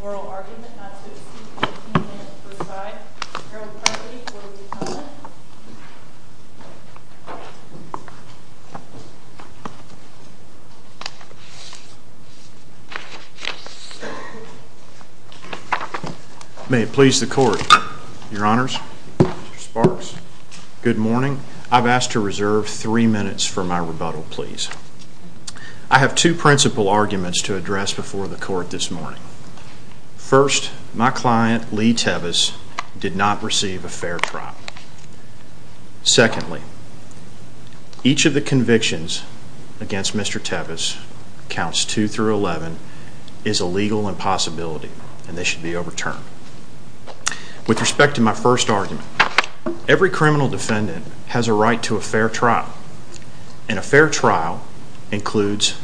Oral argument not to exceed 15 minutes per side, Harold Cronkite for the defendant. May it please the court, your honors, Mr. Sparks, good morning. I've asked to reserve three minutes for my rebuttal, please. I have two principal arguments to address before the court this morning. First, my client, Lee Tevis, did not receive a fair trial. Secondly, each of the convictions against Mr. Tevis, counts 2 through 11, is a legal impossibility and they should be overturned. With respect to my first argument, every criminal defendant has a right to a fair trial. And a fair trial includes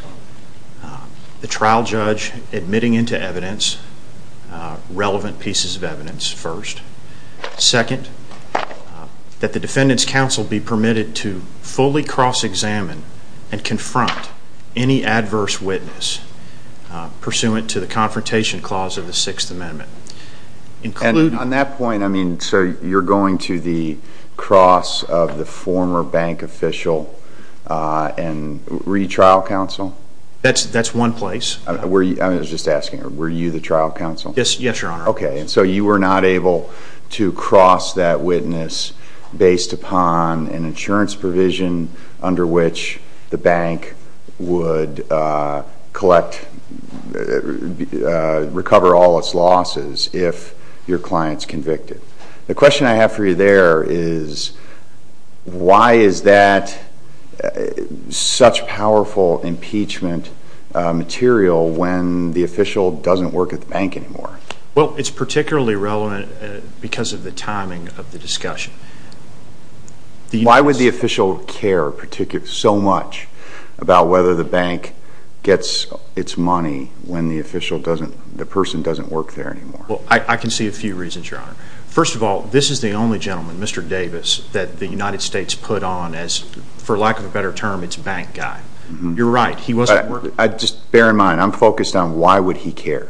the trial judge admitting into evidence relevant pieces of evidence first. Second, that the defendant's counsel be permitted to fully cross-examine and confront any adverse witness pursuant to the Confrontation Clause of the Sixth Amendment. And on that point, I mean, so you're going to the cross of the former bank official and were you trial counsel? That's one place. I was just asking, were you the trial counsel? Yes, your honor. Okay, so you were not able to cross that witness based upon an insurance provision under which the bank would collect, recover all its losses if your client's convicted. The question I have for you there is, why is that such powerful impeachment material when the official doesn't work at the bank anymore? Well, it's particularly relevant because of the timing of the discussion. Why would the official care so much about whether the bank gets its money when the person doesn't work there anymore? Well, I can see a few reasons, your honor. First of all, this is the only gentleman, Mr. Davis, that the United States put on as, for lack of a better term, its bank guy. You're right, he wasn't working. Just bear in mind, I'm focused on why would he care.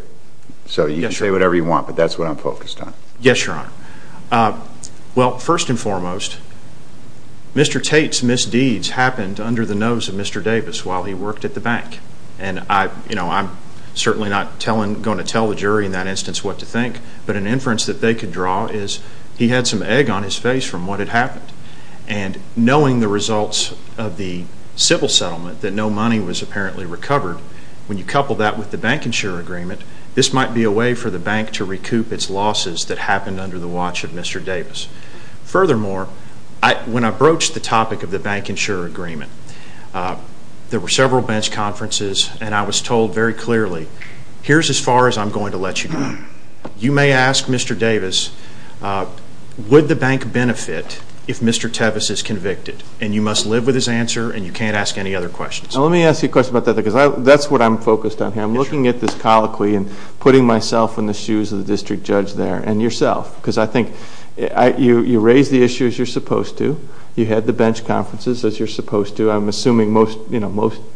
So you can say whatever you want, but that's what I'm focused on. Yes, your honor. Well, first and foremost, Mr. Tate's misdeeds happened under the nose of Mr. Davis while he worked at the bank. And I'm certainly not going to tell the jury in that instance what to think, but an inference that they could draw is he had some egg on his face from what had happened. And knowing the results of the civil settlement that no money was apparently recovered, when you couple that with the bank insurer agreement, this might be a way for the bank to recoup its losses that happened under the watch of Mr. Davis. Furthermore, when I broached the topic of the bank insurer agreement, there were several bench conferences, and I was told very clearly, here's as far as I'm going to let you go. You may ask Mr. Davis, would the bank benefit if Mr. Tevis is convicted? And you must live with his answer, and you can't ask any other questions. Now, let me ask you a question about that, because that's what I'm focused on here. I'm looking at this colloquy and putting myself in the shoes of the district judge there, and yourself, because I think you raised the issues you're supposed to. You had the bench conferences, as you're supposed to. I'm assuming most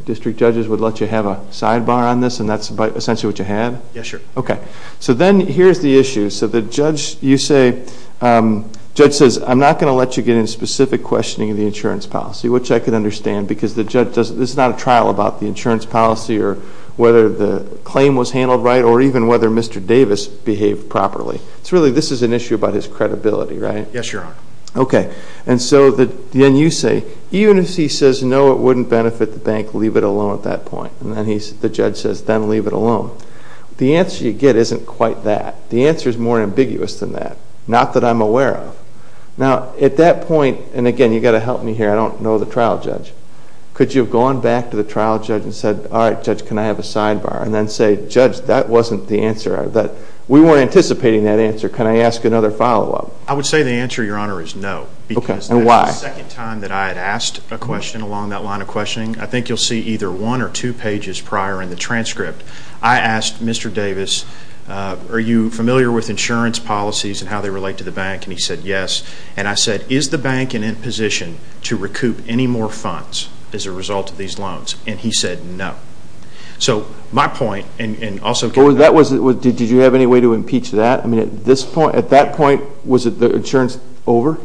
district judges would let you have a sidebar on this, and that's essentially what you had? Yes, sir. Okay. So then here's the issue. So the judge, you say, the judge says, I'm not going to let you get into specific questioning of the insurance policy, which I can understand, because the judge, this is not a trial about the insurance policy or whether the claim was handled right, or even whether Mr. Davis behaved properly. It's really, this is an issue about his credibility, right? Yes, Your Honor. Okay. And so then you say, even if he says, no, it wouldn't benefit the bank, leave it alone at that point. And then the judge says, then leave it alone. The answer you get isn't quite that. The answer is more ambiguous than that, not that I'm aware of. Now, at that Could you have gone back to the trial judge and said, all right, judge, can I have a sidebar? And then say, judge, that wasn't the answer. We weren't anticipating that answer. Can I ask another follow-up? I would say the answer, Your Honor, is no. Okay. And why? Because that was the second time that I had asked a question along that line of questioning. I think you'll see either one or two pages prior in the transcript. I asked Mr. Davis, are you familiar with insurance policies and how they relate to the bank? And he said yes. And I said, is the bank in a position to recoup any more funds as a result of these loans? And he said no. So my point, and also Did you have any way to impeach that? I mean, at that point, was the insurance over?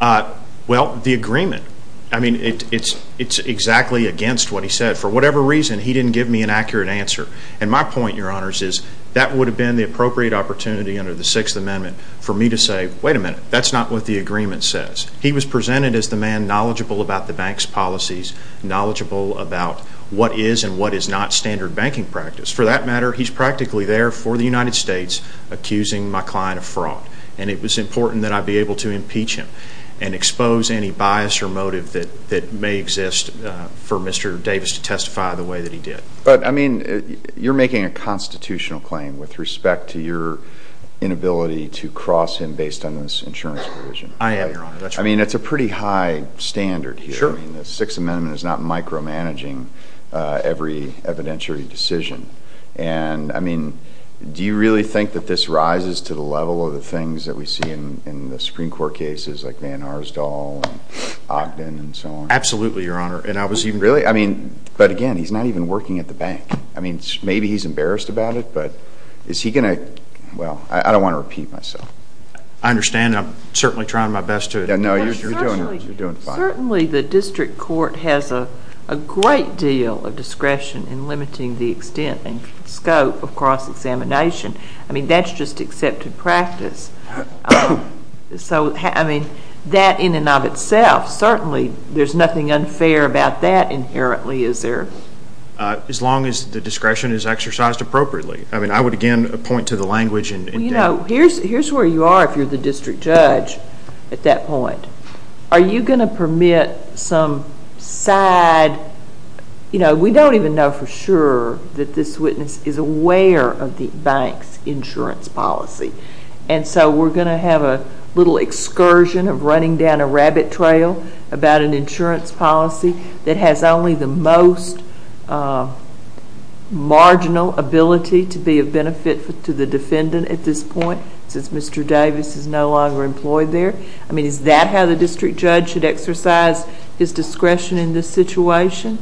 Well, the agreement. I mean, it's exactly against what he said. For whatever reason, he didn't give me an accurate answer. And my point, Your Honor, is that would have been the appropriate opportunity under the Sixth Amendment for me to say, wait a minute, that's not what the agreement says. He was presented as the man knowledgeable about the bank's policies, knowledgeable about what is and what is not standard banking practice. For that matter, he's practically there for the United States, accusing my client of fraud. And it was important that I be able to impeach him and expose any bias or motive that may exist for Mr. Davis to testify the way that he did. But I mean, you're making a constitutional claim with respect to your inability to cross him based on this insurance provision. I am, Your Honor. That's right. I mean, it's a pretty high standard here. Sure. I mean, the Sixth Amendment is not micromanaging every evidentiary decision. And I mean, do you really think that this rises to the level of the things that we see in the Supreme Court cases like Van Arsdal and Ogden and so on? Absolutely, Your Honor. And I was even Really? I mean, but again, he's not even working at the bank. I mean, maybe he's embarrassed about it, but is he going to—well, I don't want to repeat myself. I understand. I'm certainly trying my best to— No, you're doing fine. Certainly the district court has a great deal of discretion in limiting the extent and scope of cross-examination. I mean, that's just accepted practice. So I mean, that in and of itself, certainly there's nothing unfair about that inherently, is there? As long as the discretion is exercised appropriately. I mean, I would again point to the language and— Well, you know, here's where you are if you're the district judge at that point. Are you going to permit some side—you know, we don't even know for sure that this witness is aware of the bank's insurance policy. And so we're going to have a little excursion of running down a rabbit trail about an insurance policy that has only the most marginal ability to be of benefit to the defendant at this point, since Mr. Davis is no longer employed there? I mean, is that how the district judge should exercise his discretion in this situation?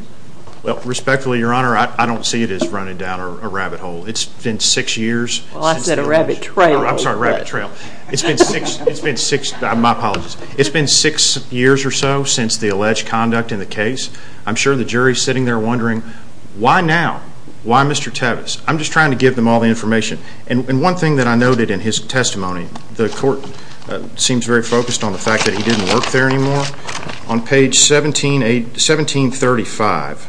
Well, respectfully, Your Honor, I don't see it as running down a rabbit hole. It's been six years since— Well, I said a rabbit trail. I'm sorry, rabbit trail. It's been six—it's been six—my apologies. It's been six years or so since the alleged conduct in the case. I'm sure the jury is sitting there wondering, why now? Why Mr. Tevis? I'm just trying to give them all the information. And one thing that I noted in his testimony, the court seems very focused on the fact that he didn't work there anymore. On page 1735,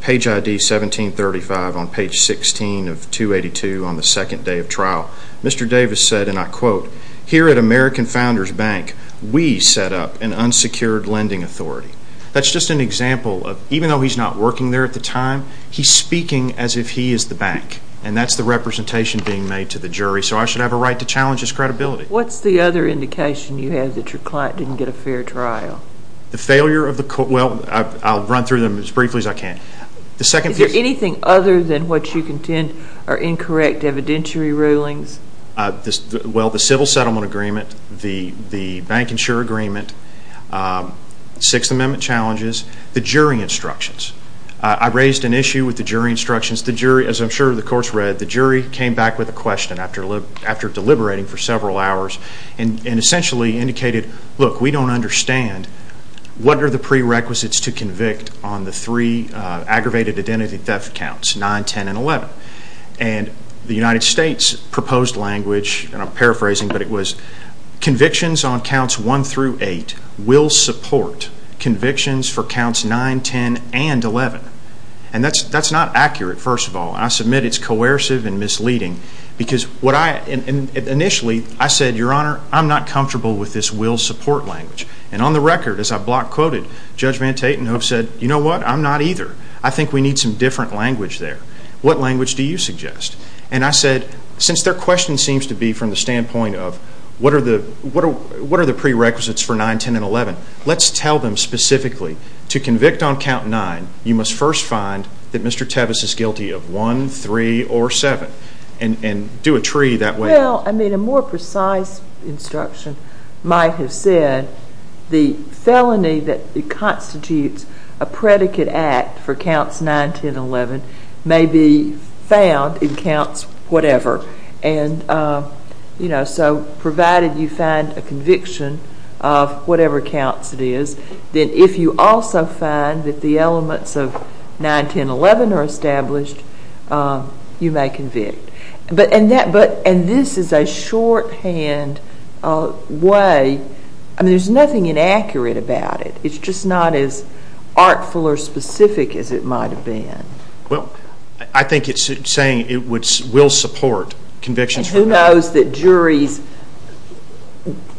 page ID 1735 on page 16 of 282 on the second day of trial, Mr. Davis said, and I quote, here at American Founders Bank, we set up an unsecured lending authority. That's just an example of, even though he's not working there at the time, he's speaking as if he is the bank. And that's the representation being made to the jury. So I should have a right to challenge his credibility. What's the other indication you have that your client didn't get a fair trial? The failure of the court—well, I'll run through them as briefly as I can. The second Is there anything other than what you contend are incorrect evidentiary rulings? Well, the civil settlement agreement, the bank insurer agreement, Sixth Amendment challenges, the jury instructions. I raised an issue with the jury instructions. The jury, as I'm sure the court's read, the jury came back with a question after deliberating for several hours and essentially indicated, look, we don't understand. What are the prerequisites to convict on the three aggravated identity theft counts, 9, 10, and 11? And the United States proposed language, and I'm paraphrasing, but it was convictions on counts 1 through 8 will support convictions for counts 9, 10, and 11. And that's not accurate, first of all. I submit it's coercive and misleading because what I—initially, I said, Your Honor, I'm not comfortable with this will support language. And on the record, as I block quoted, Judge Van Tatenhove said, You know what? I'm not either. I think we need some different language there. What language do you suggest? And I said, Since their question seems to be from the standpoint of what are the prerequisites for 9, 10, and 11, let's tell them specifically to convict on count 9, you must first find that Mr. Tevis is guilty of 1, 3, or 7, and do a tree that way. Well, I mean, a more precise instruction might have said the felony that constitutes a predicate act for counts 9, 10, and 11 may be found in counts whatever. And, you know, so provided you find a conviction of whatever counts it is, then if you also find that the conviction is a shorthand way—I mean, there's nothing inaccurate about it. It's just not as artful or specific as it might have been. Well, I think it's saying it would—will support convictions for 9, 10, and 11. And who knows that juries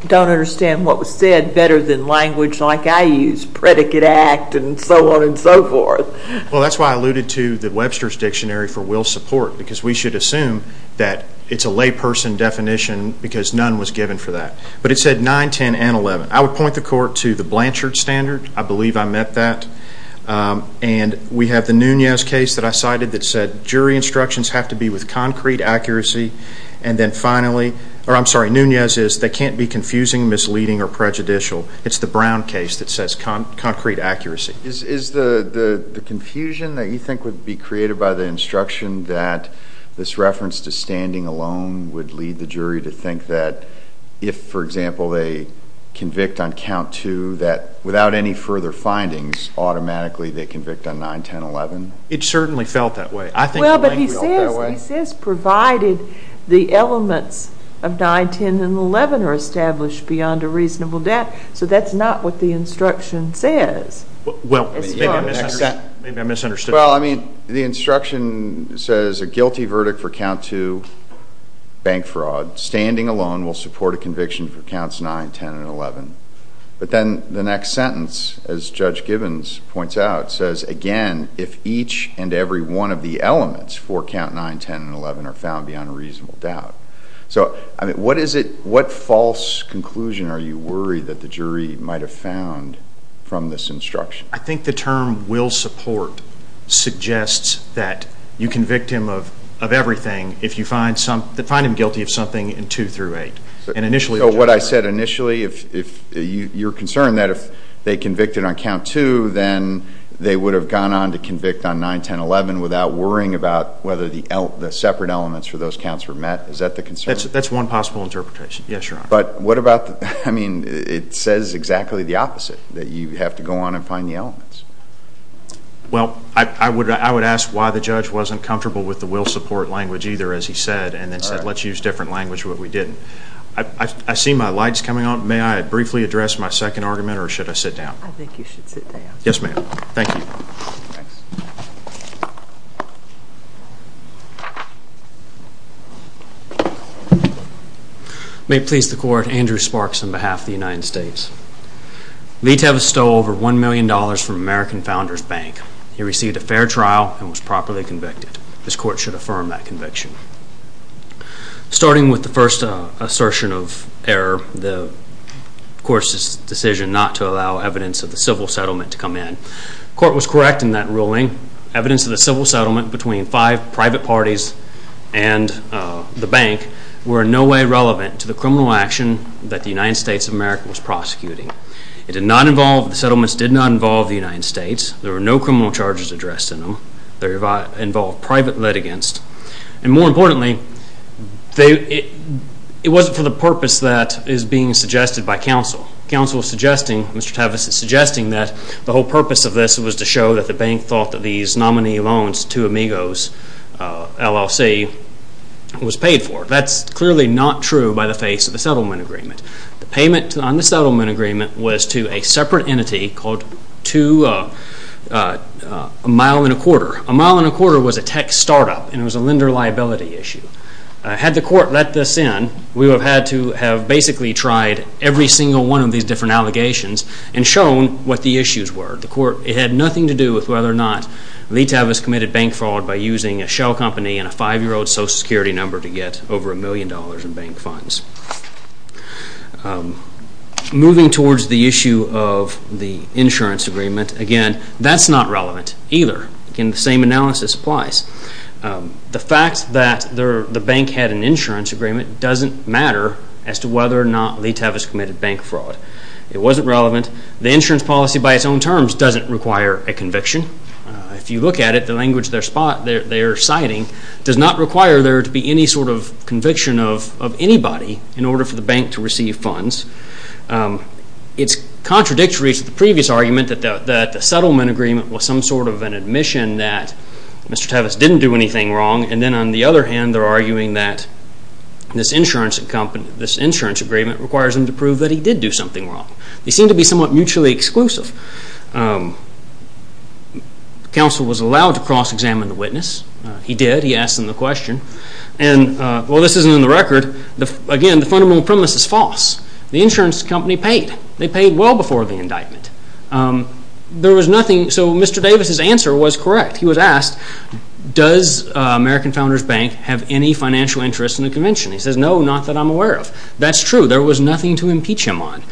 don't understand what was said better than language like I use, predicate act, and so on and so forth. Well, that's why I alluded to the Webster's Dictionary for will support, because we should assume that it's a layperson definition because none was given for that. But it said 9, 10, and 11. I would point the court to the Blanchard Standard. I believe I met that. And we have the Nunez case that I cited that said jury instructions have to be with concrete accuracy. And then finally—or, I'm sorry, Nunez is they can't be confusing, misleading, or prejudicial. It's the Brown case that says concrete accuracy. Is the confusion that you think would be created by the instruction that this reference to standing alone would lead the jury to think that if, for example, they convict on count 2, that without any further findings, automatically they convict on 9, 10, 11? It certainly felt that way. I think— Well, but he says provided the elements of 9, 10, and 11 are established beyond a reasonable doubt. So that's not what the instruction says. Well, maybe I misunderstood. Well, I mean, the instruction says a guilty verdict for count 2, bank fraud, standing alone will support a conviction for counts 9, 10, and 11. But then the next sentence, as Judge Gibbons points out, says, again, if each and every one of the elements for count 9, 10, and 11 are found beyond a reasonable doubt. So, I mean, what is it—what false conclusion are you worried that the jury might have found from this instruction? I think the term will support suggests that you convict him of everything if you find him guilty of something in 2 through 8. And initially— So what I said initially, if you're concerned that if they convicted on count 2, then they would have gone on to convict on 9, 10, 11 without worrying about whether the separate elements for those counts were met. Is that the concern? That's one possible interpretation. Yes, Your Honor. But what about—I mean, it says exactly the opposite, that you have to go on and find the elements. Well, I would ask why the judge wasn't comfortable with the will support language either, as he said, and then said, let's use different language, which we didn't. I see my lights coming on. May I briefly address my second argument, or should I sit down? I think you should sit down. Yes, ma'am. Thank you. May it please the Court, Andrew Sparks on behalf of the United States. Litev stole over $1 million from American Founders Bank. He received a fair trial and was properly convicted. This Court should affirm that conviction. Starting with the first assertion of error, the Court's decision not to allow evidence of the settlement to come in. The Court was correct in that ruling. Evidence of the civil settlement between five private parties and the bank were in no way relevant to the criminal action that the United States of America was prosecuting. The settlements did not involve the United States. There were no criminal charges addressed in them. They involved private litigants. More importantly, it wasn't for the purpose that is being suggested by counsel. Mr. Tavis is suggesting that the whole purpose of this was to show that the bank thought that these nominee loans to Amigos LLC was paid for. That's clearly not true by the face of the settlement agreement. The payment on the settlement agreement was to a separate entity called A Mile and a Quarter. A Mile and a Quarter was a tech startup and it was a lender liability issue. Had the Court let this in, we would have had to have basically tried every single one of these different allegations and shown what the issues were. It had nothing to do with whether or not Lee Tavis committed bank fraud by using a shell company and a five-year-old social security number to get over a million dollars in bank funds. Moving towards the issue of the insurance agreement, again, that's not relevant either. The same analysis applies. The fact that the bank had an insurance agreement doesn't matter as to whether or not Lee Tavis committed bank fraud. It wasn't relevant. The insurance policy by its own terms doesn't require a conviction. If you look at it, the language they're citing does not require there to be any sort of conviction of anybody in order for the bank to receive funds. It's contradictory to the previous argument that the settlement agreement was some sort of an admission that Mr. Tavis didn't do anything wrong. And then on the other hand, they're arguing that this insurance agreement requires him to prove that he did do something wrong. They seem to be somewhat mutually exclusive. The counsel was allowed to cross-examine the witness. He did. He asked them the question. And while this isn't in the record, again, the fundamental premise is false. The insurance company paid. They paid well before the indictment. There was nothing. So Mr. Tavis's answer was correct. He was asked, does American Founders Bank have any financial interest in the convention? He says, no, not that I'm aware of. That's true. There was nothing to impeach him on.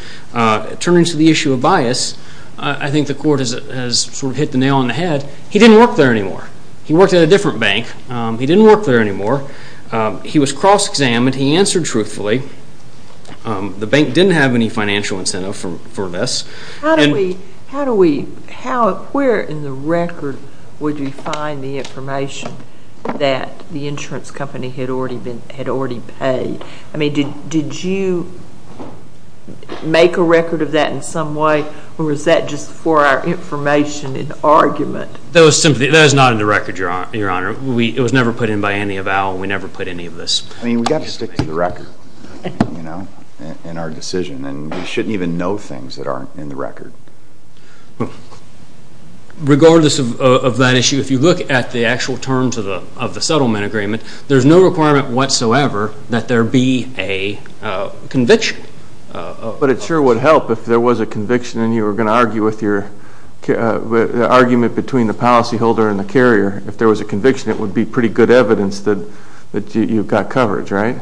Turning to the issue of bias, I think the court has sort of hit the nail on the head. He didn't work there anymore. He worked at a different bank. He didn't work there anymore. He was cross-examined. He answered truthfully. The bank didn't have any financial incentive for this. Where in the record would you find the information that the insurance company had already paid? I mean, did you make a record of that in some way? Or was that just for our information and argument? That was not in the record, Your Honor. It was never put in by any avowal. We never put any of this. I mean, we've got to stick to the record, you know, in our decision. And we shouldn't even know things that aren't in the record. Regardless of that issue, if you look at the actual terms of the settlement agreement, there's no requirement whatsoever that there be a conviction. But it sure would help if there was a conviction and you were going to argue with your argument between the policyholder and the carrier. If there was a conviction, it would be pretty good evidence that you've got coverage, right?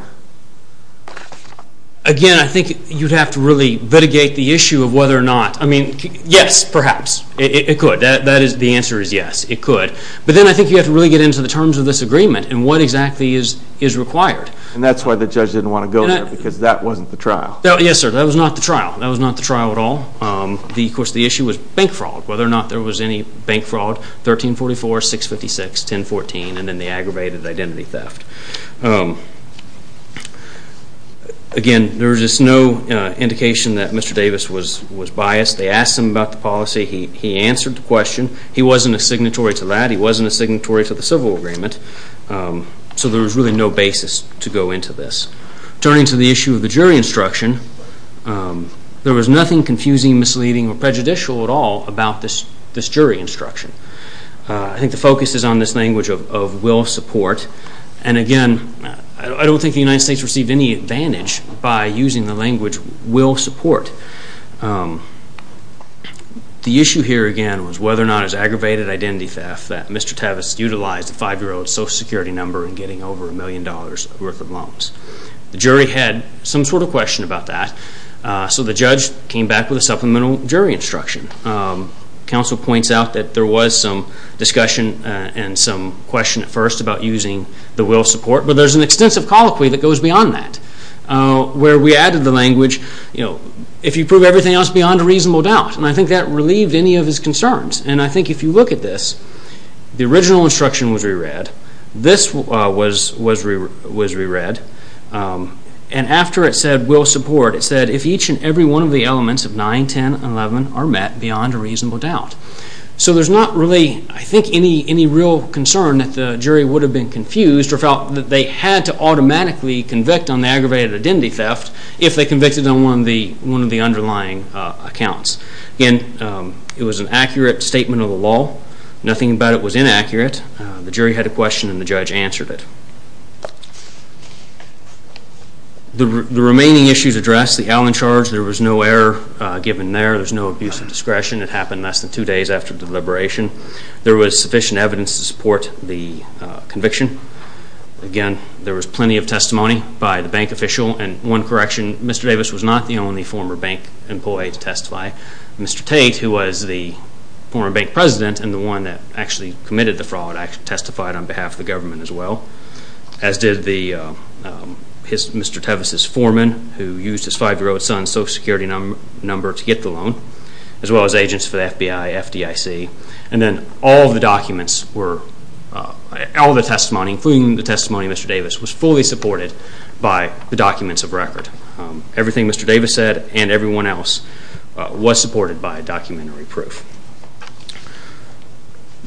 Again, I think you'd have to really litigate the issue of whether or not, I mean, yes, perhaps, it could. The answer is yes, it could. But then I think you have to really get into the terms of this agreement and what exactly is required. And that's why the judge didn't want to go there, because that wasn't the trial. Yes, sir, that was not the trial. That was not the trial at all. Of course, the issue was bank fraud, whether or not there was any bank fraud, 1344, 656, 1014, and then the aggravated identity theft. Again, there was just no indication that Mr. Davis was biased. They asked him about the policy. He answered the question. He wasn't a signatory to that. He wasn't a signatory to the civil agreement. So there was really no basis to go into this. Turning to the issue of the jury instruction, there was nothing confusing, misleading, or prejudicial at all about this jury instruction. I think the focus is on this language of will support. And again, I don't think the United States received any advantage by using the language will support. The issue here, again, was whether or not it was aggravated identity theft that Mr. Davis utilized a five-year-old's Social Security number in getting over a million dollars' worth of loans. The jury had some sort of question about that. So the judge came back with a supplemental jury instruction. Counsel points out that there was some discussion and some question at first about using the will support. But there's an extensive colloquy that goes beyond that, where we added the language, you know, if you prove everything else beyond a reasonable doubt. And I think that relieved any of his concerns. And I think if you look at this, the original instruction was re-read. This was re-read. And after it said every one of the elements of 9, 10, and 11 are met beyond a reasonable doubt. So there's not really, I think, any real concern that the jury would have been confused or felt that they had to automatically convict on the aggravated identity theft if they convicted on one of the underlying accounts. Again, it was an accurate statement of the law. Nothing about it was inaccurate. The jury had a question and the judge answered it. The remaining issues addressed, the Allen charge, there was no error given there. There's no abuse of discretion. It happened less than two days after the deliberation. There was sufficient evidence to support the conviction. Again, there was plenty of testimony by the bank official. And one correction, Mr. Davis was not the only former bank employee to testify. Mr. Tate, who was the former bank president and the one that actually committed the fraud, testified on behalf of the government as well, as did Mr. Tevis' foreman, who used his five-year-old son's social security number to get the loan, as well as agents for the FBI, FDIC. And then all the documents, all the testimony, including the testimony of Mr. Davis, was fully supported by the documents of record. Everything Mr. Davis said and everyone else was supported by documentary proof.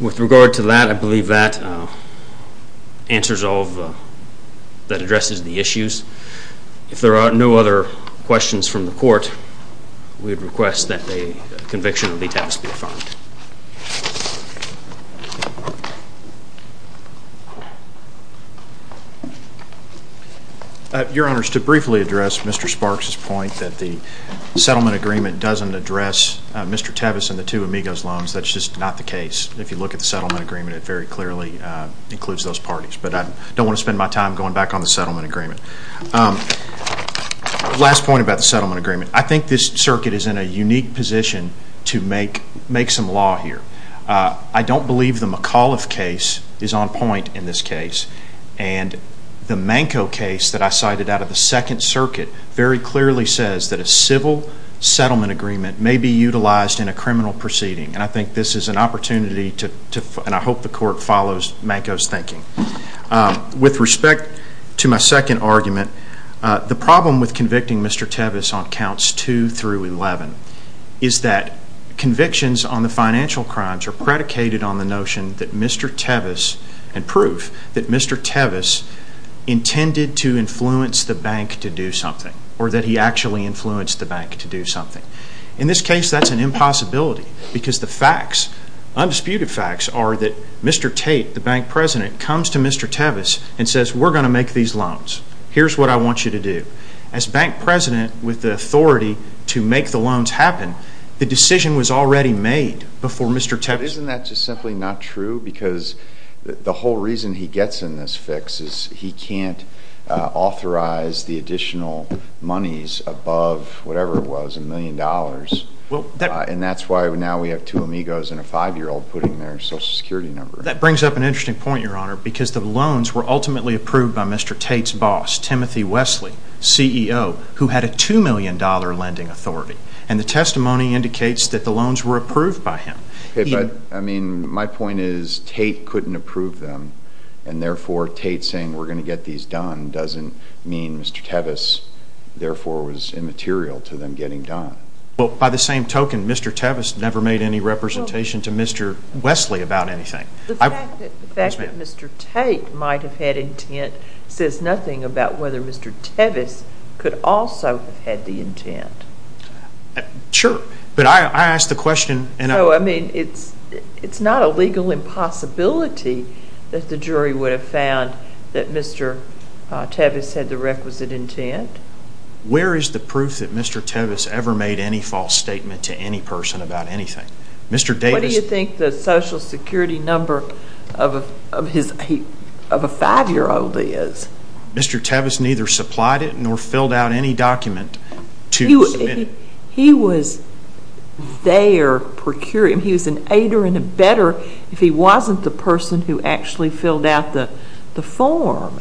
With regard to that, I believe that answers all that addresses the issues. If there are no other questions from the court, we would request that the conviction of Lee Tevis be affirmed. Your Honors, to briefly address Mr. Sparks' point that the settlement agreement doesn't address Mr. Tevis and the two amigos' loans, that's just not the case. If you look at the settlement agreement, it very clearly includes those parties. But I don't want to spend my time going back on the settlement agreement. Last point about the settlement agreement. I think this circuit is in a unique position to make some law here. I don't believe the McAuliffe case is on point in this case. And the Manco case that I cited out of the Second Circuit very clearly says that a civil settlement agreement may be utilized in a criminal proceeding. And I think this is an opportunity, and I hope the court follows Manco's thinking. With respect to my second argument, the problem with convicting Mr. Tevis on counts 2 through 11 is that convictions on the financial crimes are predicated on the notion that Mr. Tevis, and proof, that Mr. Tevis intended to influence the bank to do something, or that he actually influenced the bank to do something. In this case, that's an impossibility, because the facts, undisputed facts, are that Mr. Tate, the bank president, comes to Mr. Tevis and says, we're going to make these loans. Here's what I want you to do. As bank president with the authority to make the loans happen, the decision was already made before Mr. Tevis... Isn't that just simply not true? Because the whole reason he gets in this fix is he can't authorize the additional monies above whatever it was, a million dollars. And that's why now we have two amigos and a five-year-old putting their social security number. That brings up an interesting point, Your Honor, because the loans were ultimately approved by Mr. Tate's boss, Timothy Wesley, CEO, who had a $2 million lending authority. And the testimony indicates that the loans were approved by him. I mean, my point is Tate couldn't approve them, and therefore Tate saying, we're going to get these done, doesn't mean Mr. Tevis, therefore, was immaterial to them getting done. Well, by the same token, Mr. Tevis never made any representation to Mr. Wesley about anything. The fact that Mr. Tate might have had intent says nothing about whether Mr. Tevis could also have had the intent. Sure, but I asked the jury would have found that Mr. Tevis had the requisite intent. Where is the proof that Mr. Tevis ever made any false statement to any person about anything? What do you think the social security number of a five-year-old is? Mr. Tevis neither supplied it nor filled out any document. He was there procuring. He was an aider and a better if he wasn't the person who actually filled out the form.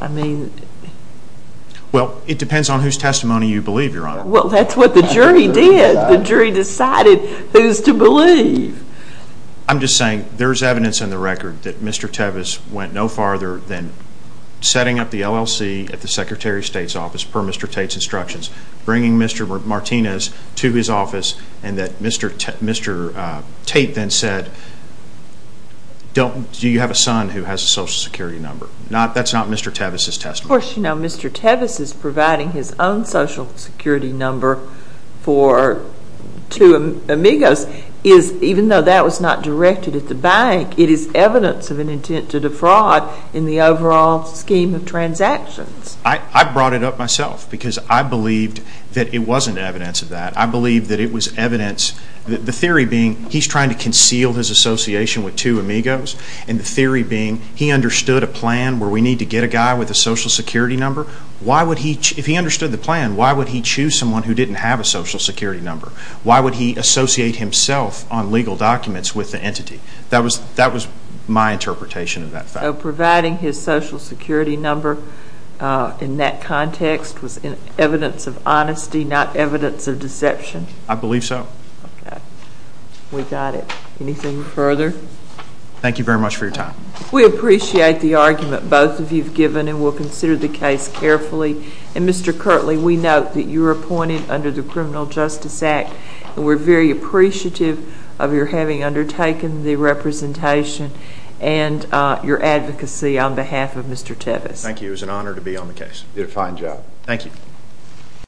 Well, it depends on whose testimony you believe, Your Honor. Well, that's what the jury did. The jury decided who's to believe. I'm just saying there's evidence in the record that Mr. Tevis went no farther than setting up LLC at the Secretary of State's office per Mr. Tate's instructions, bringing Mr. Martinez to his office and that Mr. Tate then said, do you have a son who has a social security number? That's not Mr. Tevis' testimony. Of course, Mr. Tevis is providing his own social security number for two amigos. Even though that was not directed at the bank, it is evidence of an intent to defraud in the overall scheme of transactions. I brought it up myself because I believed that it wasn't evidence of that. I believe that it was evidence, the theory being he's trying to conceal his association with two amigos and the theory being he understood a plan where we need to get a guy with a social security number. If he understood the plan, why would he choose someone who didn't have a social security number? Why would he associate himself on legal documents with the entity? That was my interpretation of that fact. Providing his social security number in that context was evidence of honesty, not evidence of deception? I believe so. We got it. Anything further? Thank you very much for your time. We appreciate the argument both of you've given and we'll consider the case carefully. Mr. Kirtley, we note that you were taking the representation and your advocacy on behalf of Mr. Tevis. Thank you. It was an honor to be on the case. You did a fine job. Thank you.